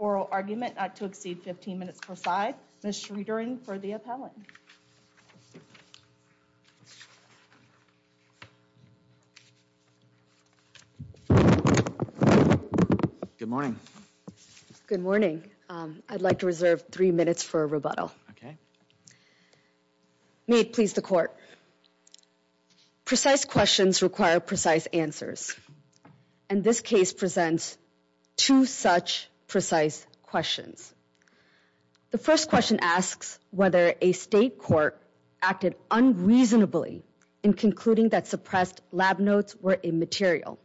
Oral argument not to exceed 15 minutes per side. Ms. Schroedering for the appellant. Good morning. Good morning. I'd like to reserve three minutes for a rebuttal. Okay. May it please the court. Precise questions require precise answers. And this case presents two such precise questions. The first question asks whether a state court acted unreasonably in concluding that suppressed lab notes were immaterial.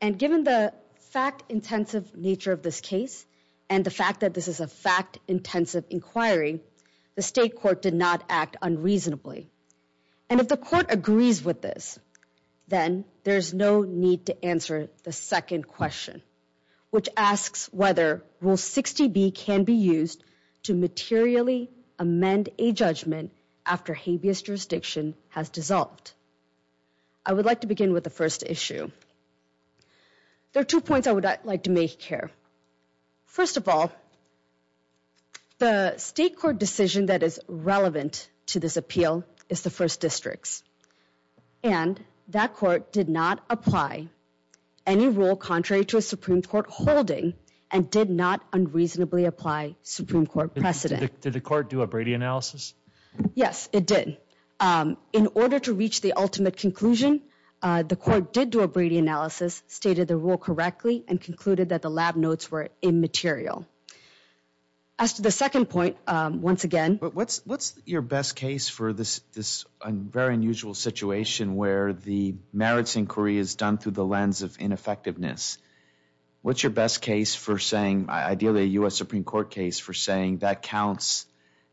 And given the fact intensive nature of this case and the fact that this is a fact intensive inquiry, the state court did not act unreasonably. And if the court agrees with this, then there's no need to answer the second question, which asks whether Rule 60B can be used to materially amend a judgment after habeas jurisdiction has dissolved. I would like to begin with the first issue. There are two points I would like to make here. First of all, the state court decision that is relevant to this appeal is the first district's. And that court did not apply any rule contrary to a Supreme Court holding and did not unreasonably apply Supreme Court precedent. Did the court do a Brady analysis? Yes, it did. In order to reach the ultimate conclusion, the court did do a Brady analysis, stated the rule correctly, and concluded that the lab notes were immaterial. As to the second point, once again. What's your best case for this very unusual situation where the merits inquiry is done through the lens of ineffectiveness? What's your best case for saying ideally a U.S. Supreme Court case for saying that counts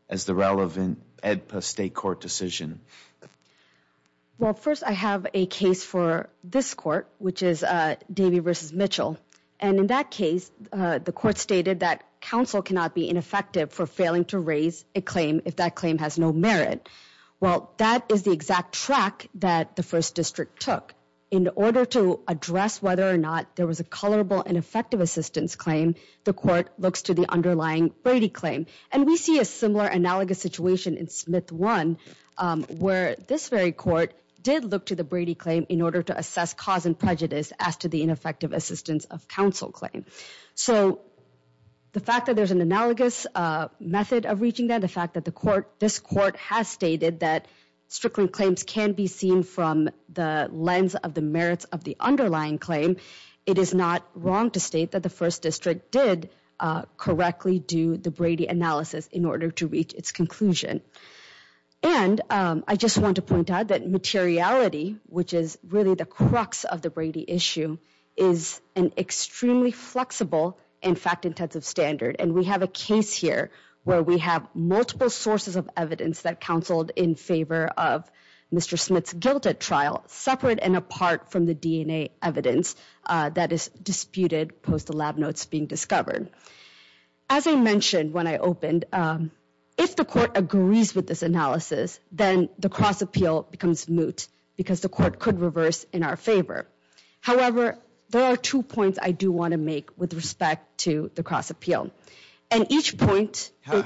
as the relevant Edpa state court decision? Well, first I have a case for this court, which is Davey v. Mitchell. And in that case, the court stated that counsel cannot be ineffective for failing to raise a claim if that claim has no merit. Well, that is the exact track that the first district took. But in order to address whether or not there was a colorable and effective assistance claim, the court looks to the underlying Brady claim. And we see a similar analogous situation in Smith 1, where this very court did look to the Brady claim in order to assess cause and prejudice as to the ineffective assistance of counsel claim. So the fact that there's an analogous method of reaching that, the fact that this court has stated that strickling claims can be seen from the lens of the merits of the underlying claim, it is not wrong to state that the first district did correctly do the Brady analysis in order to reach its conclusion. And I just want to point out that materiality, which is really the crux of the Brady issue, is an extremely flexible and fact-intensive standard. And we have a case here where we have multiple sources of evidence that counseled in favor of Mr. Smith's guilt at trial, separate and apart from the DNA evidence that is disputed post the lab notes being discovered. As I mentioned when I opened, if the court agrees with this analysis, then the cross-appeal becomes moot because the court could reverse in our favor. However, there are two points I do want to make with respect to the cross-appeal. And each point... That's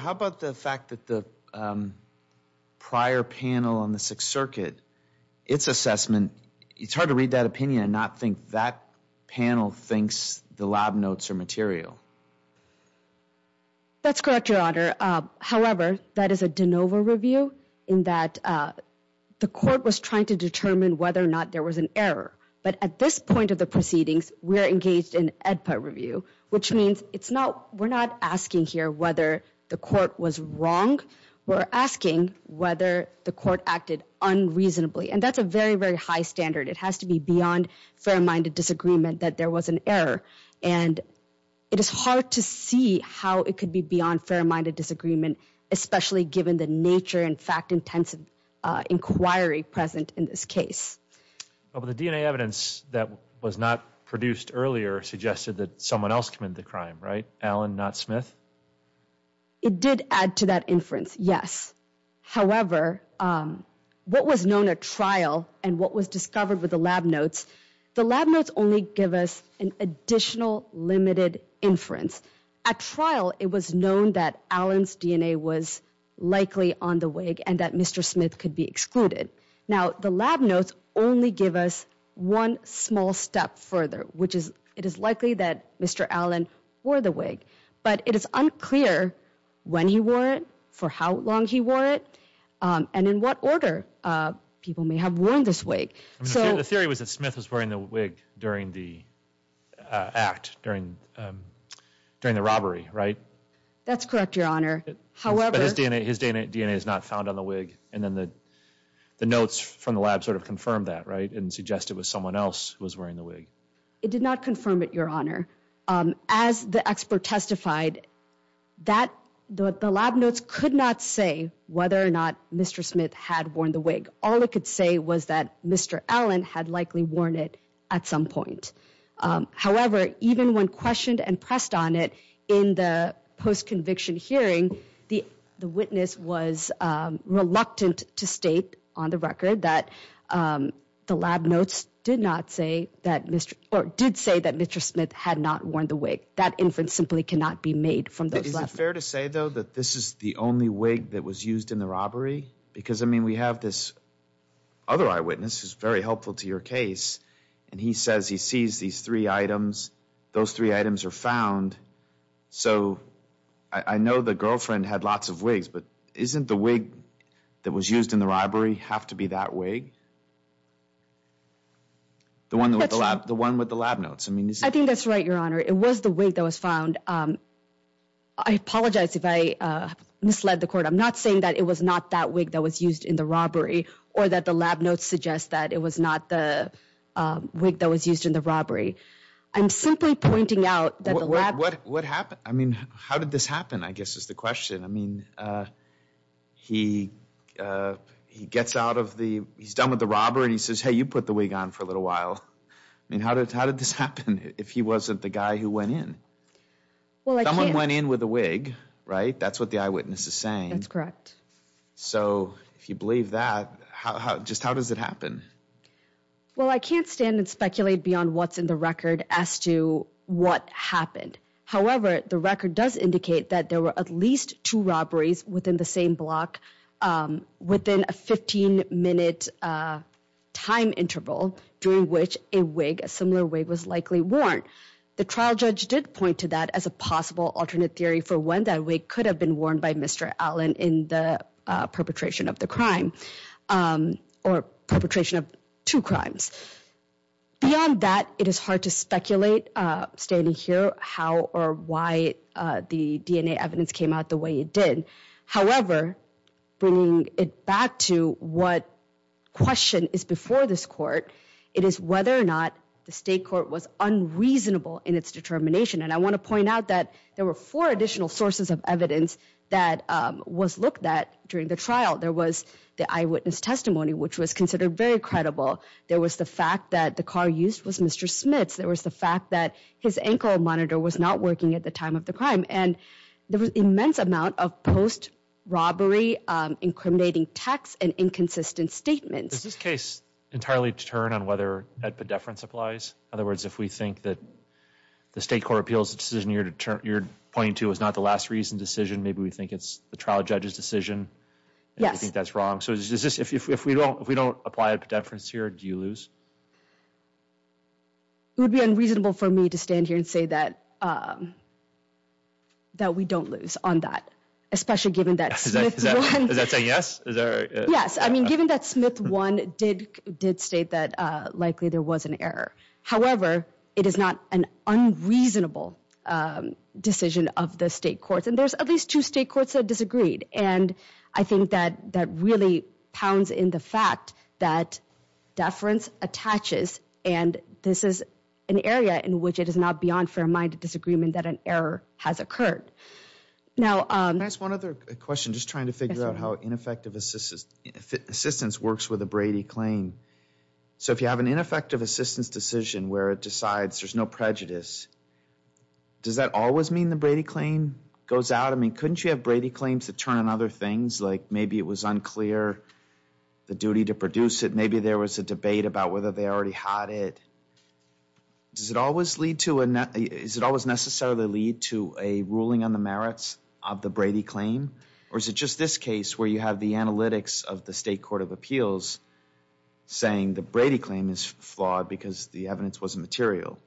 correct, Your Honor. However, that is a de novo review in that the court was trying to determine whether or not there was an error. But at this point of the proceedings, we're engaged in EDPA review, which means we're not asking here whether the court was wrong. We're asking whether the court acted unreasonably. And that's a very, very high standard. It has to be beyond fair-minded disagreement that there was an error. And it is hard to see how it could be beyond fair-minded disagreement, especially given the nature and fact-intensive inquiry present in this case. Well, the DNA evidence that was not produced earlier suggested that someone else committed the crime, right? Allen, not Smith? It did add to that inference, yes. However, what was known at trial and what was discovered with the lab notes, the lab notes only give us an additional limited inference. At trial, it was known that Allen's DNA was likely on the wig and that Mr. Smith could be excluded. Now, the lab notes only give us one small step further, which is it is likely that Mr. Allen wore the wig. But it is unclear when he wore it, for how long he wore it, and in what order people may have worn this wig. The theory was that Smith was wearing the wig during the act, during the robbery, right? That's correct, Your Honor. But his DNA is not found on the wig. And then the notes from the lab sort of confirmed that, right? And suggested it was someone else who was wearing the wig. It did not confirm it, Your Honor. As the expert testified, the lab notes could not say whether or not Mr. Smith had worn the wig. All it could say was that Mr. Allen had likely worn it at some point. However, even when questioned and pressed on it in the post-conviction hearing, the witness was reluctant to state on the record that the lab notes did not say that Mr. or did say that Mr. Smith had not worn the wig. That inference simply cannot be made from those lab notes. Is it fair to say, though, that this is the only wig that was used in the robbery? Because, I mean, we have this other eyewitness who's very helpful to your case. And he says he sees these three items. Those three items are found. So I know the girlfriend had lots of wigs, but isn't the wig that was used in the robbery have to be that wig? The one with the lab notes. I think that's right, Your Honor. It was the wig that was found. I apologize if I misled the court. I'm not saying that it was not that wig that was used in the robbery or that the lab notes suggest that it was not the wig that was used in the robbery. I'm simply pointing out that the lab notes. What happened? I mean, how did this happen, I guess, is the question. I mean, he gets out of the ‑‑ he's done with the robbery, and he says, hey, you put the wig on for a little while. I mean, how did this happen if he wasn't the guy who went in? Someone went in with a wig, right? That's what the eyewitness is saying. That's correct. So if you believe that, just how does it happen? Well, I can't stand and speculate beyond what's in the record as to what happened. However, the record does indicate that there were at least two robberies within the same block within a 15‑minute time interval during which a wig, a similar wig, was likely worn. The trial judge did point to that as a possible alternate theory for when that wig could have been worn by Mr. Allen in the perpetration of the crime or perpetration of two crimes. Beyond that, it is hard to speculate, standing here, how or why the DNA evidence came out the way it did. However, bringing it back to what question is before this court, it is whether or not the state court was unreasonable in its determination. And I want to point out that there were four additional sources of evidence that was looked at during the trial. There was the eyewitness testimony, which was considered very credible. There was the fact that the car used was Mr. Smith's. There was the fact that his ankle monitor was not working at the time of the crime. And there was immense amount of post-robbery, incriminating text, and inconsistent statements. Is this case entirely deterred on whether that pedeference applies? In other words, if we think that the state court appeals decision you're pointing to is not the last reason decision, maybe we think it's the trial judge's decision. Yes. Do you think that's wrong? So if we don't apply a pedeference here, do you lose? It would be unreasonable for me to stand here and say that we don't lose on that, especially given that Smith won. Is that saying yes? Yes. I mean, given that Smith won did state that likely there was an error. However, it is not an unreasonable decision of the state courts. And there's at least two state courts that disagreed. And I think that that really pounds in the fact that deference attaches, and this is an area in which it is not beyond fair-minded disagreement that an error has occurred. Can I ask one other question? Just trying to figure out how ineffective assistance works with a Brady claim. So if you have an ineffective assistance decision where it decides there's no prejudice, does that always mean the Brady claim goes out? I mean, couldn't you have Brady claims that turn on other things, like maybe it was unclear the duty to produce it? Maybe there was a debate about whether they already had it. Does it always necessarily lead to a ruling on the merits of the Brady claim, or is it just this case where you have the analytics of the state court of appeals saying the Brady claim is flawed because the evidence wasn't material?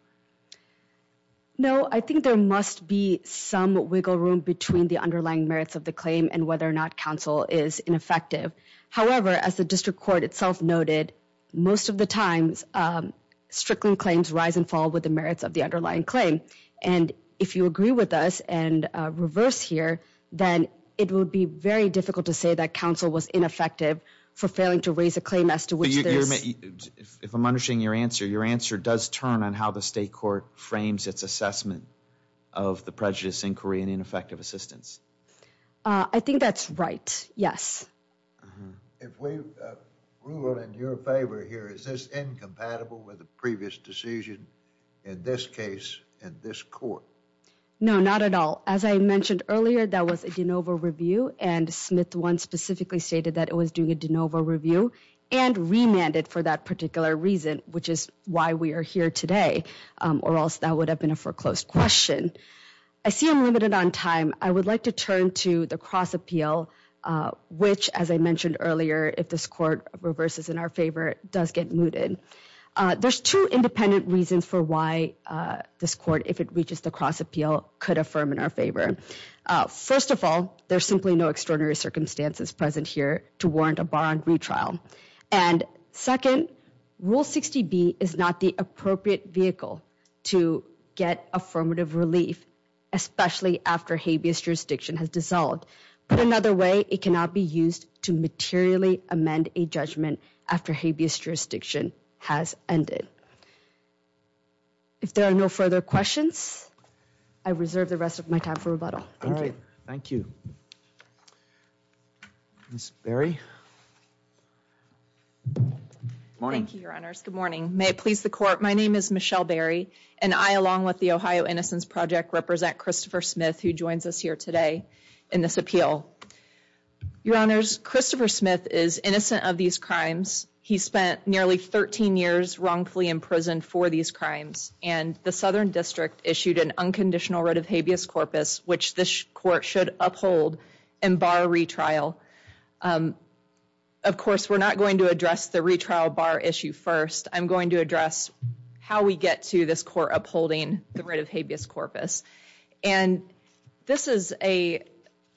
No, I think there must be some wiggle room between the underlying merits of the claim and whether or not counsel is ineffective. However, as the district court itself noted, most of the times Strickland claims rise and fall with the merits of the underlying claim. And if you agree with us and reverse here, then it would be very difficult to say that counsel was ineffective for failing to raise a claim as to which there is. If I'm understanding your answer, your answer does turn on how the state court frames its assessment of the prejudice inquiry and ineffective assistance. I think that's right. Yes. If we rule in your favor here, is this incompatible with the previous decision in this case and this court? No, not at all. As I mentioned earlier, that was a de novo review, and Smith one specifically stated that it was doing a de novo review and remanded for that particular reason, which is why we are here today, or else that would have been a foreclosed question. I see I'm limited on time. I would like to turn to the cross appeal, which, as I mentioned earlier, if this court reverses in our favor, does get mooted. There's two independent reasons for why this court, if it reaches the cross appeal, could affirm in our favor. First of all, there's simply no extraordinary circumstances present here to warrant a bond retrial. And second, Rule 60B is not the appropriate vehicle to get affirmative relief, especially after habeas jurisdiction has dissolved. Put another way, it cannot be used to materially amend a judgment after habeas jurisdiction has ended. If there are no further questions, I reserve the rest of my time for rebuttal. All right. Thank you. Ms. Berry? Morning. Thank you, Your Honors. Good morning. May it please the Court, my name is Michelle Berry, and I, along with the Ohio Innocence Project, represent Christopher Smith, who joins us here today in this appeal. Your Honors, Christopher Smith is innocent of these crimes. He spent nearly 13 years wrongfully imprisoned for these crimes, and the Southern District issued an unconditional writ of habeas corpus, which this court should uphold and bar retrial. Of course, we're not going to address the retrial bar issue first. I'm going to address how we get to this court upholding the writ of habeas corpus. And this is a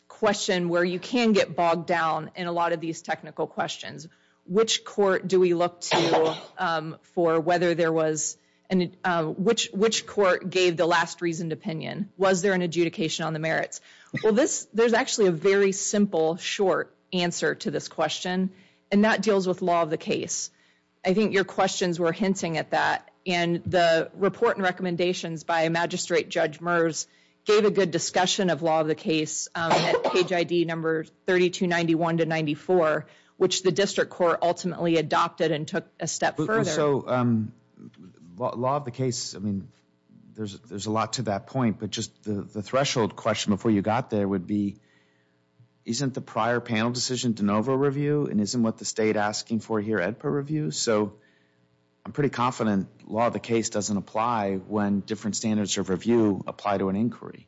question where you can get bogged down in a lot of these technical questions. Which court do we look to for whether there was, which court gave the last reasoned opinion? Was there an adjudication on the merits? Well, there's actually a very simple, short answer to this question, and that deals with law of the case. I think your questions were hinting at that, and the report and recommendations by Magistrate Judge Merz gave a good discussion of law of the case at page ID number 3291 to 94, which the district court ultimately adopted and took a step further. So, law of the case, I mean, there's a lot to that point, but just the threshold question before you got there would be, isn't the prior panel decision de novo review, and isn't what the state asking for here at per review? So, I'm pretty confident law of the case doesn't apply when different standards of review apply to an inquiry.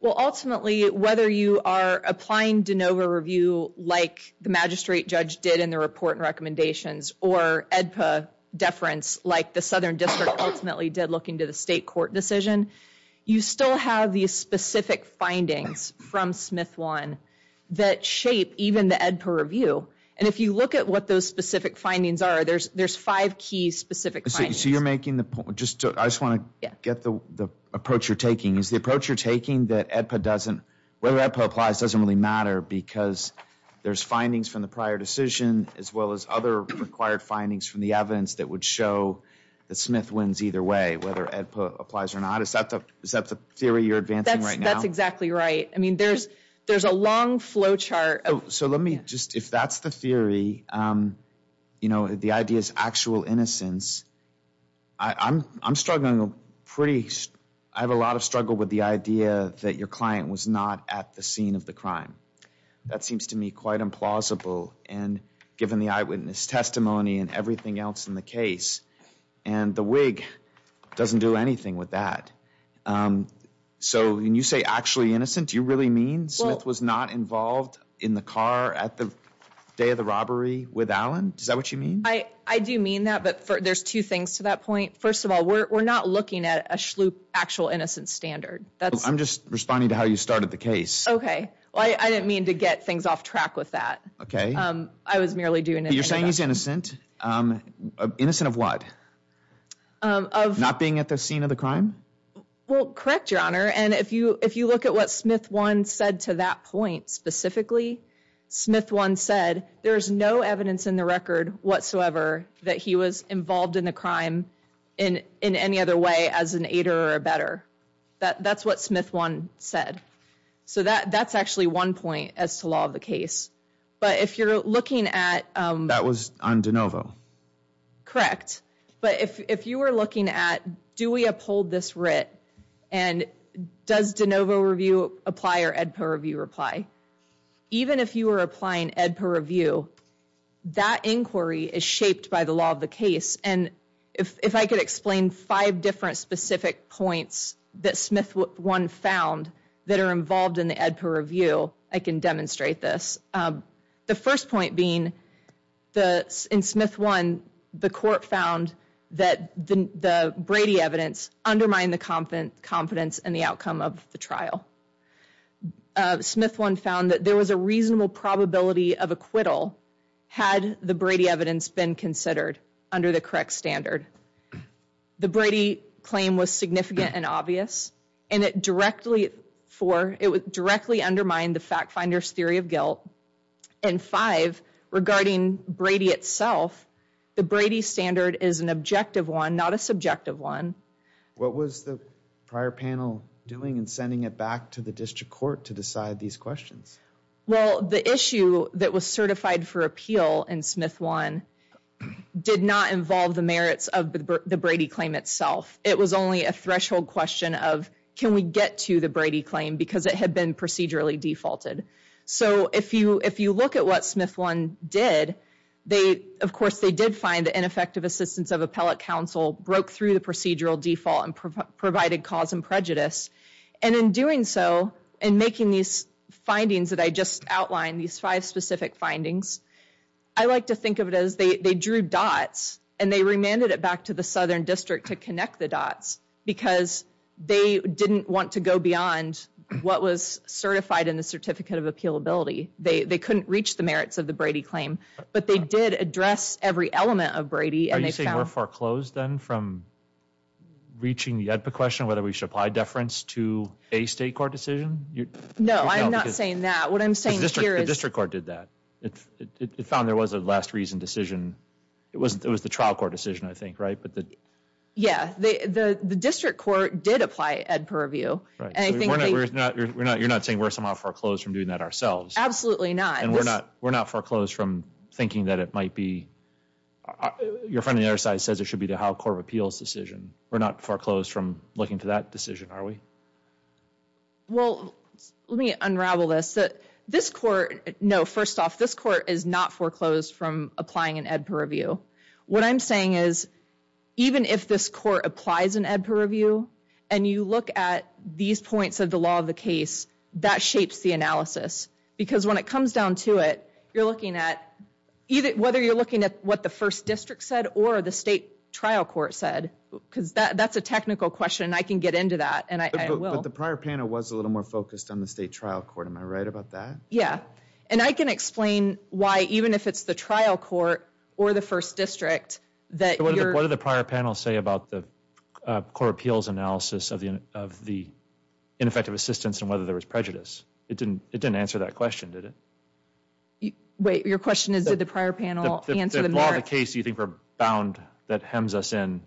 Well, ultimately, whether you are applying de novo review like the magistrate judge did in the report and recommendations, or ADPA deference like the southern district ultimately did looking to the state court decision, you still have these specific findings from Smith-Wan that shape even the ADPA review. And if you look at what those specific findings are, there's five key specific findings. So, you're making the point, I just want to get the approach you're taking. Is the approach you're taking that ADPA doesn't, whether ADPA applies doesn't really matter because there's findings from the prior decision as well as other required findings from the evidence that would show that Smith-Wan's either way, whether ADPA applies or not. Is that the theory you're advancing right now? That's exactly right. I mean, there's a long flow chart. So, let me just, if that's the theory, you know, the idea is actual innocence. I'm struggling pretty, I have a lot of struggle with the idea that your client was not at the scene of the crime. That seems to me quite implausible and given the eyewitness testimony and everything else in the case. And the Whig doesn't do anything with that. So, when you say actually innocent, do you really mean Smith was not involved in the car at the day of the robbery with Allen? Is that what you mean? I do mean that, but there's two things to that point. First of all, we're not looking at a schloop actual innocence standard. I'm just responding to how you started the case. Okay. Well, I didn't mean to get things off track with that. Okay. I was merely doing it. You're saying he's innocent. Innocent of what? Of? Not being at the scene of the crime? Well, correct, Your Honor. And if you look at what Smith 1 said to that point specifically, Smith 1 said, there's no evidence in the record whatsoever that he was involved in the crime in any other way as an aider or a better. That's what Smith 1 said. So, that's actually one point as to law of the case. But if you're looking at... That was on DeNovo. Correct. But if you were looking at do we uphold this writ and does DeNovo review apply or EDPA review apply, even if you were applying EDPA review, that inquiry is shaped by the law of the case. And if I could explain five different specific points that Smith 1 found that are involved in the EDPA review, I can demonstrate this. The first point being, in Smith 1, the court found that the Brady evidence undermined the confidence in the outcome of the trial. Smith 1 found that there was a reasonable probability of acquittal had the Brady evidence been considered under the correct standard. The Brady claim was significant and obvious. And it directly undermined the fact finder's theory of guilt. And five, regarding Brady itself, the Brady standard is an objective one, not a subjective one. What was the prior panel doing in sending it back to the district court to decide these questions? Well, the issue that was certified for appeal in Smith 1 did not involve the merits of the Brady claim itself. It was only a threshold question of can we get to the Brady claim because it had been procedurally defaulted. So if you look at what Smith 1 did, of course they did find that ineffective assistance of appellate counsel broke through the procedural default and provided cause and prejudice. And in doing so, in making these findings that I just outlined, these five specific findings, I like to think of it as they drew dots and they remanded it back to the southern district to connect the dots because they didn't want to go beyond what was certified in the certificate of appealability. They couldn't reach the merits of the Brady claim, but they did address every element of Brady. Are you saying we're foreclosed then from reaching the AEDPA question, whether we should apply deference to a state court decision? No, I'm not saying that. The district court did that. It found there was a last reason decision. It was the trial court decision, I think, right? Yeah, the district court did apply AEDPA review. You're not saying we're somehow foreclosed from doing that ourselves? Absolutely not. And we're not foreclosed from thinking that it might be? Your friend on the other side says it should be the trial court of appeals decision. We're not foreclosed from looking to that decision, are we? Well, let me unravel this. This court, no, first off, this court is not foreclosed from applying an AEDPA review. What I'm saying is even if this court applies an AEDPA review and you look at these points of the law of the case, that shapes the analysis. Because when it comes down to it, you're looking at, whether you're looking at what the first district said or the state trial court said, because that's a technical question and I can get into that and I will. But the prior panel was a little more focused on the state trial court. Am I right about that? Yeah. And I can explain why even if it's the trial court or the first district that you're What did the prior panel say about the court appeals analysis of the ineffective assistance and whether there was prejudice? It didn't answer that question, did it? Wait, your question is, did the prior panel answer the matter? The law of the case, do you think we're bound, that hems us in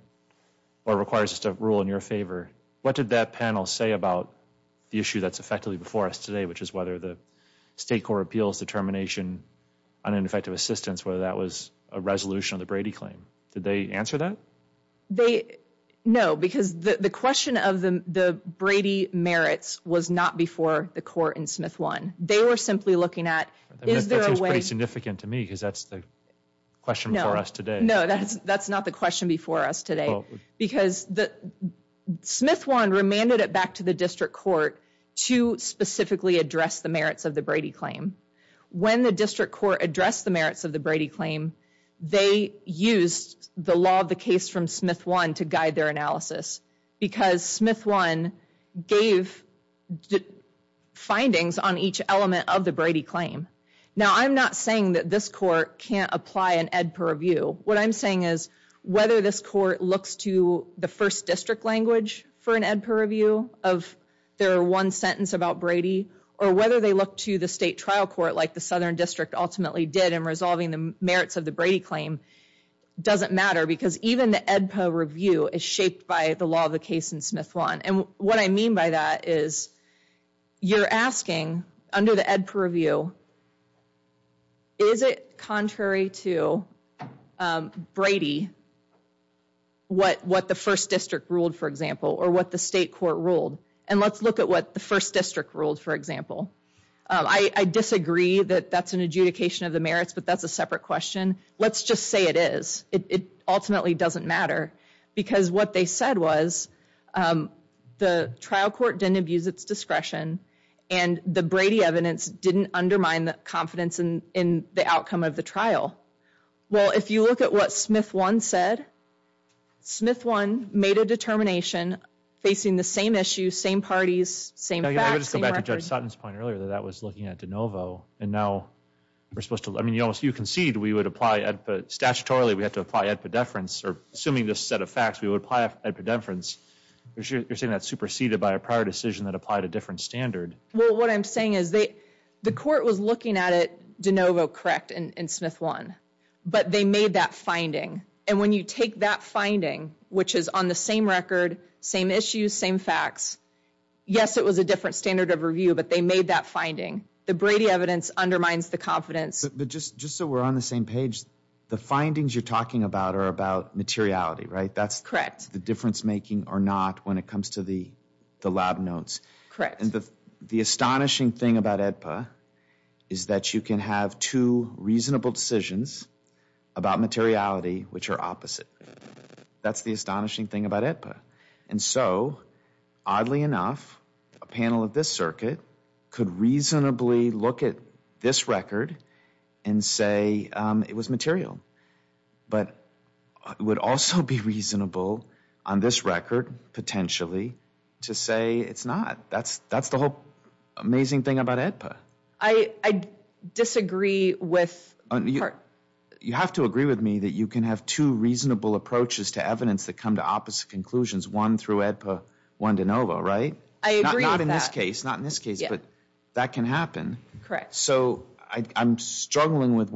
or requires us to rule in your favor? What did that panel say about the issue that's effectively before us today, which is whether the state court appeals determination on ineffective assistance, whether that was a resolution of the Brady claim? Did they answer that? No, because the question of the Brady merits was not before the court in Smith 1. They were simply looking at, is there a way That seems pretty significant to me because that's the question before us today. No, that's not the question before us today. Because Smith 1 remanded it back to the district court to specifically address the merits of the Brady claim. When the district court addressed the merits of the Brady claim, they used the law of the case from Smith 1 to guide their analysis because Smith 1 gave findings on each element of the Brady claim. Now, I'm not saying that this court can't apply an ed per review. What I'm saying is whether this court looks to the first district language for an ed per review of their one sentence about Brady or whether they look to the state trial court like the southern district ultimately did in resolving the merits of the Brady claim doesn't matter because even the ed per review is shaped by the law of the case in Smith 1. And what I mean by that is you're asking under the ed per review, is it contrary to Brady what the first district ruled, for example, or what the state court ruled? And let's look at what the first district ruled, for example. I disagree that that's an adjudication of the merits, but that's a separate question. Let's just say it is. It ultimately doesn't matter because what they said was the trial court didn't abuse its discretion and the Brady evidence didn't undermine the confidence in the outcome of the trial. Well, if you look at what Smith 1 said, Smith 1 made a determination facing the same issue, same parties, same facts, same records. I would just go back to Judge Sutton's point earlier that that was looking at de novo and now we're supposed to, I mean, you concede we would apply, statutorily we have to apply ed pedeference or assuming this set of facts, we would apply ed pedeference. You're saying that's superseded by a prior decision that applied a different standard. Well, what I'm saying is the court was looking at it de novo correct in Smith 1, but they made that finding. And when you take that finding, which is on the same record, same issues, same facts, yes, it was a different standard of review, but they made that finding. The Brady evidence undermines the confidence. But just so we're on the same page, the findings you're talking about are about materiality, right? That's the difference making or not when it comes to the lab notes. Correct. And the astonishing thing about AEDPA is that you can have two reasonable decisions about materiality which are opposite. That's the astonishing thing about AEDPA. And so, oddly enough, a panel of this circuit could reasonably look at this record and say it was material. But it would also be reasonable on this record potentially to say it's not. That's the whole amazing thing about AEDPA. I disagree with the court. You have to agree with me that you can have two reasonable approaches to evidence that come to opposite conclusions, one through AEDPA, one de novo, right? I agree with that. Not in this case, but that can happen. Correct. So I'm struggling with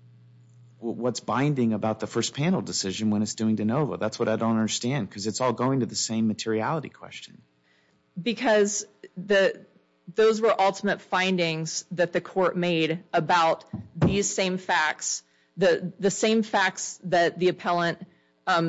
what's binding about the first panel decision when it's doing de novo. That's what I don't understand because it's all going to the same materiality question. Because those were ultimate findings that the court made about these same facts, the same facts that the appellant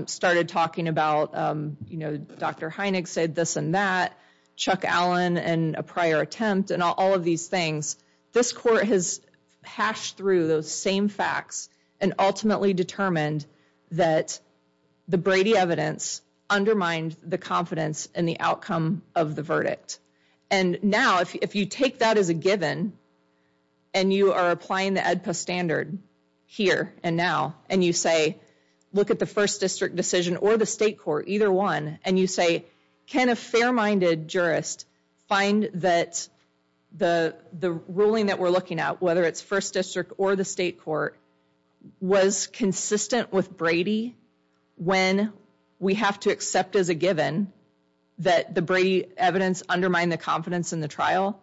started talking about. You know, Dr. Heinegg said this and that, Chuck Allen and a prior attempt and all of these things. This court has hashed through those same facts and ultimately determined that the Brady evidence undermined the confidence in the outcome of the verdict. And now if you take that as a given and you are applying the AEDPA standard here and now and you say look at the first district decision or the state court, either one, and you say can a fair-minded jurist find that the ruling that we're looking at, whether it's first district or the state court, was consistent with Brady when we have to accept as a given that the Brady evidence undermined the confidence in the trial?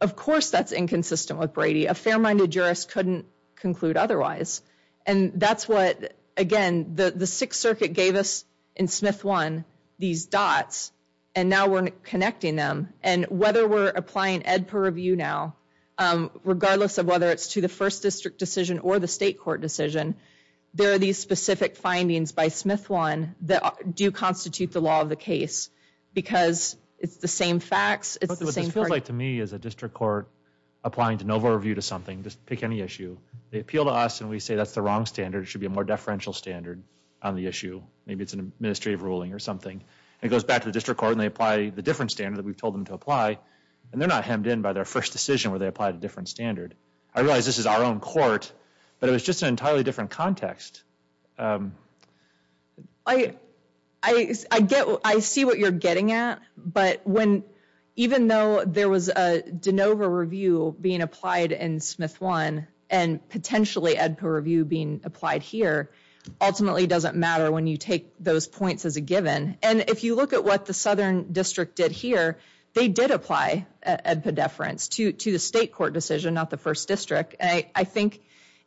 Of course that's inconsistent with Brady. A fair-minded jurist couldn't conclude otherwise. And that's what, again, the Sixth Circuit gave us in Smith I these dots and now we're connecting them. And whether we're applying AEDPA review now, regardless of whether it's to the first district decision or the state court decision, there are these specific findings by Smith I that do constitute the law of the case because it's the same facts, it's the same part. But this feels like to me as a district court applying to NOVA review to something, just pick any issue, they appeal to us and we say that's the wrong standard, it should be a more deferential standard on the issue, maybe it's an administrative ruling or something, and it goes back to the district court and they apply the different standard that we've told them to apply and they're not hemmed in by their first decision where they applied a different standard. I realize this is our own court, but it was just an entirely different context. I see what you're getting at, but even though there was a de NOVA review being applied in Smith I and potentially AEDPA review being applied here, ultimately it doesn't matter when you take those points as a given. And if you look at what the southern district did here, they did apply AEDPA deference to the state court decision, not the first district. I think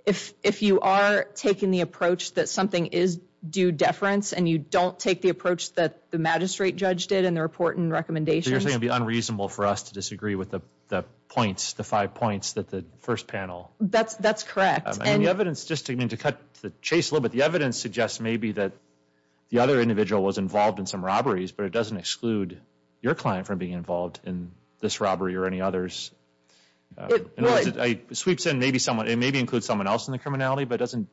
if you are taking the approach that something is due deference and you don't take the approach that the magistrate judge did in the report and recommendations. So you're saying it would be unreasonable for us to disagree with the points, the five points that the first panel. That's correct. And the evidence, just to cut the chase a little bit, the evidence suggests maybe that the other individual was involved in some robberies, but it doesn't exclude your client from being involved in this robbery or any others. It sweeps in, it maybe includes someone else in the criminality, but it doesn't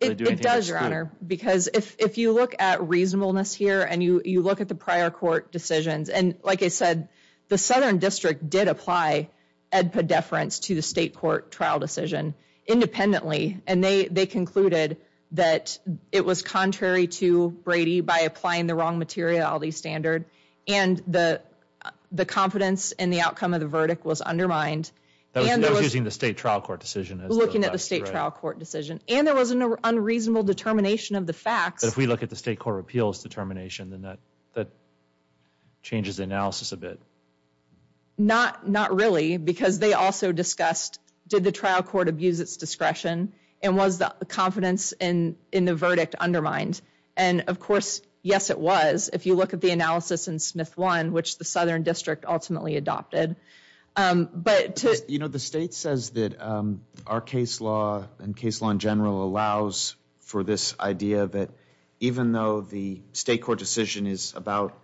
do anything to exclude. That's a good point, Mr. Governor, because if you look at reasonableness here and you look at the prior court decisions, and like I said, the southern district did apply AEDPA deference to the state court trial decision independently, and they concluded that it was contrary to Brady by applying the wrong materiality standard and the confidence in the outcome of the verdict was undermined. That was using the state trial court decision. Looking at the state trial court decision. And there was an unreasonable determination of the facts. But if we look at the state court appeals determination, then that changes the analysis a bit. Not really, because they also discussed did the trial court abuse its discretion and was the confidence in the verdict undermined. And, of course, yes it was if you look at the analysis in Smith 1, which the southern district ultimately adopted. You know, the state says that our case law and case law in general allows for this idea that even though the state court decision is about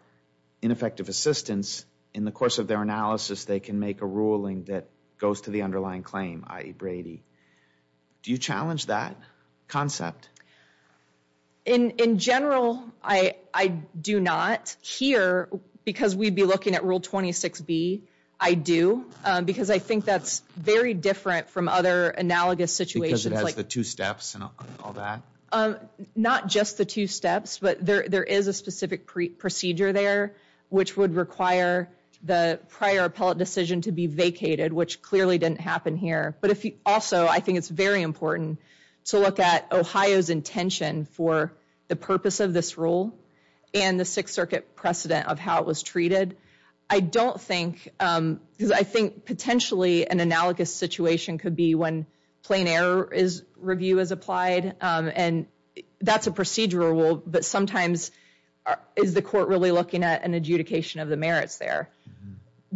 ineffective assistance, in the course of their analysis they can make a ruling that goes to the underlying claim, i.e. Brady. Do you challenge that concept? In general, I do not. Here, because we'd be looking at Rule 26B, I do. Because I think that's very different from other analogous situations. Because it has the two steps and all that? Not just the two steps, but there is a specific procedure there which would require the prior appellate decision to be vacated, which clearly didn't happen here. But also, I think it's very important to look at Ohio's intention for the purpose of this rule and the Sixth Circuit precedent of how it was treated. I don't think, because I think potentially an analogous situation could be when plain error review is applied, and that's a procedural rule, but sometimes is the court really looking at an adjudication of the merits there?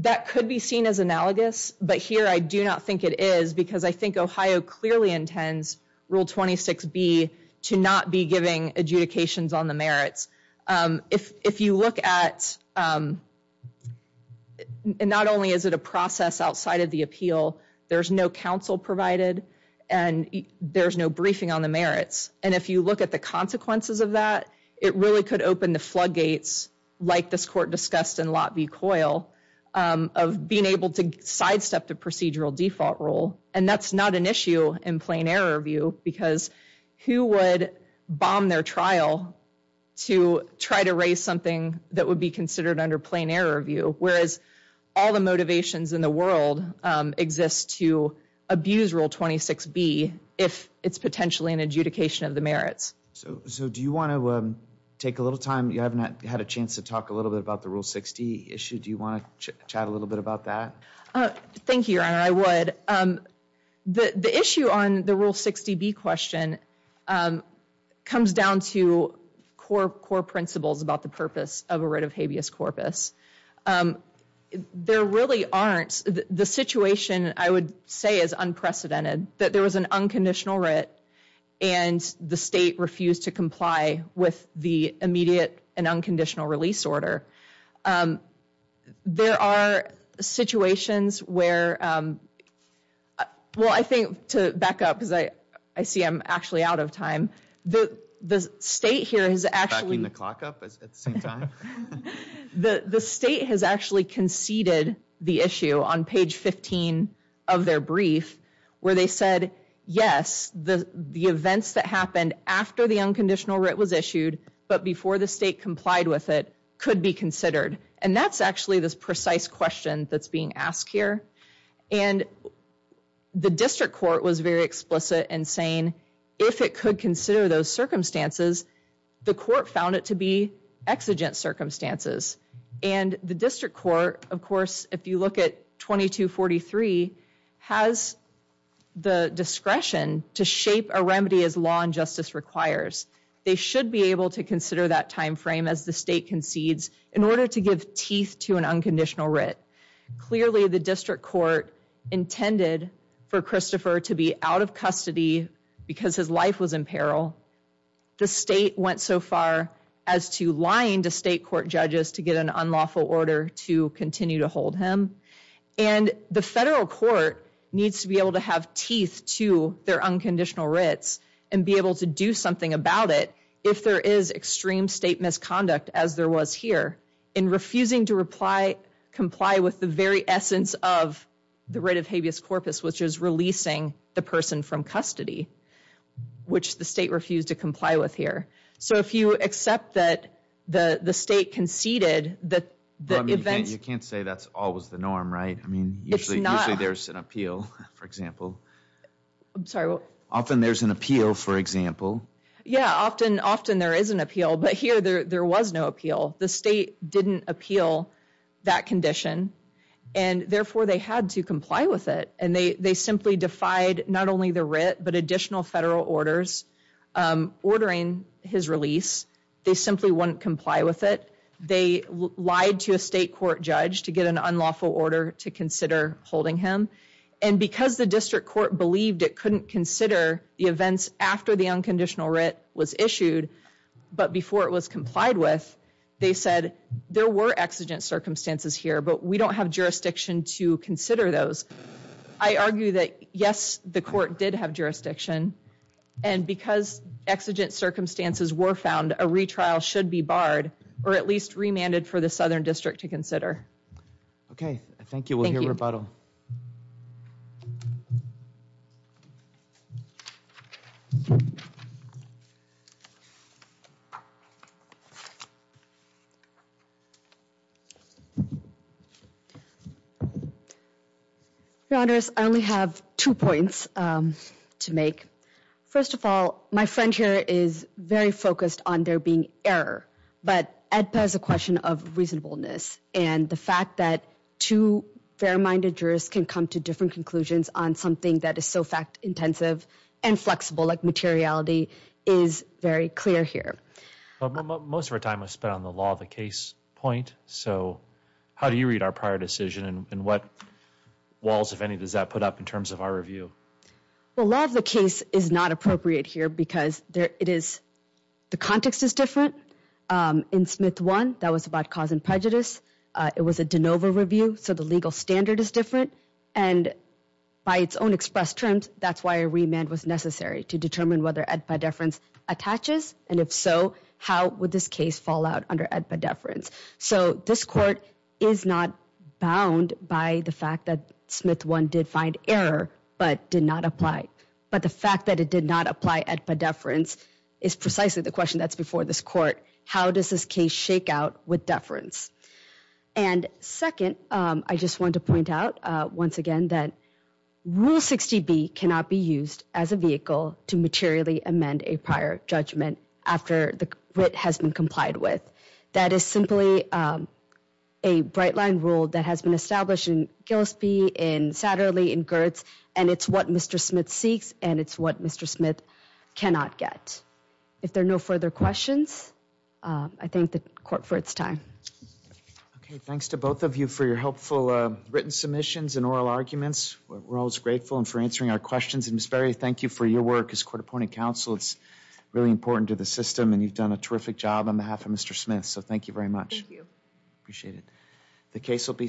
That could be seen as analogous, but here I do not think it is because I think Ohio clearly intends Rule 26B to not be giving adjudications on the merits. If you look at, not only is it a process outside of the appeal, there's no counsel provided, and there's no briefing on the merits. And if you look at the consequences of that, it really could open the floodgates, like this court discussed in Lot v. Coyle, of being able to sidestep the procedural default rule. And that's not an issue in plain error review, because who would bomb their trial to try to raise something that would be considered under plain error review, whereas all the motivations in the world exist to abuse Rule 26B if it's potentially an adjudication of the merits. So do you want to take a little time? You haven't had a chance to talk a little bit about the Rule 60 issue. Do you want to chat a little bit about that? Thank you, Your Honor, I would. The issue on the Rule 60B question comes down to core principles about the purpose of a writ of habeas corpus. There really aren't, the situation I would say is unprecedented, that there was an unconditional writ and the state refused to comply with the immediate and unconditional release order. There are situations where, well, I think to back up, because I see I'm actually out of time, the state here has actually conceded the issue on page 15 of their brief, where they said, yes, the events that happened after the unconditional writ was issued, but before the state complied with it, could be considered. And that's actually this precise question that's being asked here. And the district court was very explicit in saying if it could consider those circumstances, the court found it to be exigent circumstances. And the district court, of course, if you look at 2243, has the discretion to shape a remedy as law and justice requires. They should be able to consider that time frame as the state concedes in order to give teeth to an unconditional writ. Clearly the district court intended for Christopher to be out of custody because his life was in peril. The state went so far as to lying to state court judges to get an unlawful order to continue to hold him. And the federal court needs to be able to have teeth to their unconditional writs and be able to do something about it if there is extreme state misconduct as there was here. In refusing to comply with the very essence of the writ of habeas corpus, which is releasing the person from custody, which the state refused to comply with here. So if you accept that the state conceded that the event... You can't say that's always the norm, right? I mean, usually there's an appeal, for example. I'm sorry. Often there's an appeal, for example. Yeah, often there is an appeal. But here there was no appeal. The state didn't appeal that condition. And therefore they had to comply with it. And they simply defied not only the writ, but additional federal orders ordering his release. They simply wouldn't comply with it. They lied to a state court judge to get an unlawful order to consider holding him. And because the district court believed it couldn't consider the events after the unconditional writ was issued, but before it was complied with, they said there were exigent circumstances here, but we don't have jurisdiction to consider those. I argue that, yes, the court did have jurisdiction. And because exigent circumstances were found, a retrial should be barred, or at least remanded for the Southern District to consider. Okay, thank you. We'll hear rebuttal. Your Honors, I only have two points to make. First of all, my friend here is very focused on there being error. But AEDPA is a question of reasonableness. And the fact that two fair-minded jurors can come to different conclusions on something that is so fact-intensive and flexible, like materiality, is very clear here. Most of our time was spent on the law of the case point. So how do you read our prior decision, and what walls, if any, does that put up in terms of our review? Well, law of the case is not appropriate here because the context is different. In Smith 1, that was about cause and prejudice. It was a de novo review, so the legal standard is different. And by its own express terms, that's why a remand was necessary, to determine whether AEDPA deference attaches. And if so, how would this case fall out under AEDPA deference? So this court is not bound by the fact that Smith 1 did find error but did not apply. But the fact that it did not apply AEDPA deference is precisely the question that's before this court. How does this case shake out with deference? And second, I just want to point out once again that Rule 60B cannot be used as a vehicle to materially amend a prior judgment after the writ has been complied with. That is simply a bright-line rule that has been established in Gillespie, in Satterley, in Gertz, and it's what Mr. Smith seeks, and it's what Mr. Smith cannot get. If there are no further questions, I thank the court for its time. Okay, thanks to both of you for your helpful written submissions and oral arguments. We're always grateful and for answering our questions. And Ms. Berry, thank you for your work as court appointed counsel. It's really important to the system, and you've done a terrific job on behalf of Mr. Smith. So thank you very much. Thank you. Appreciate it. The case will be submitted.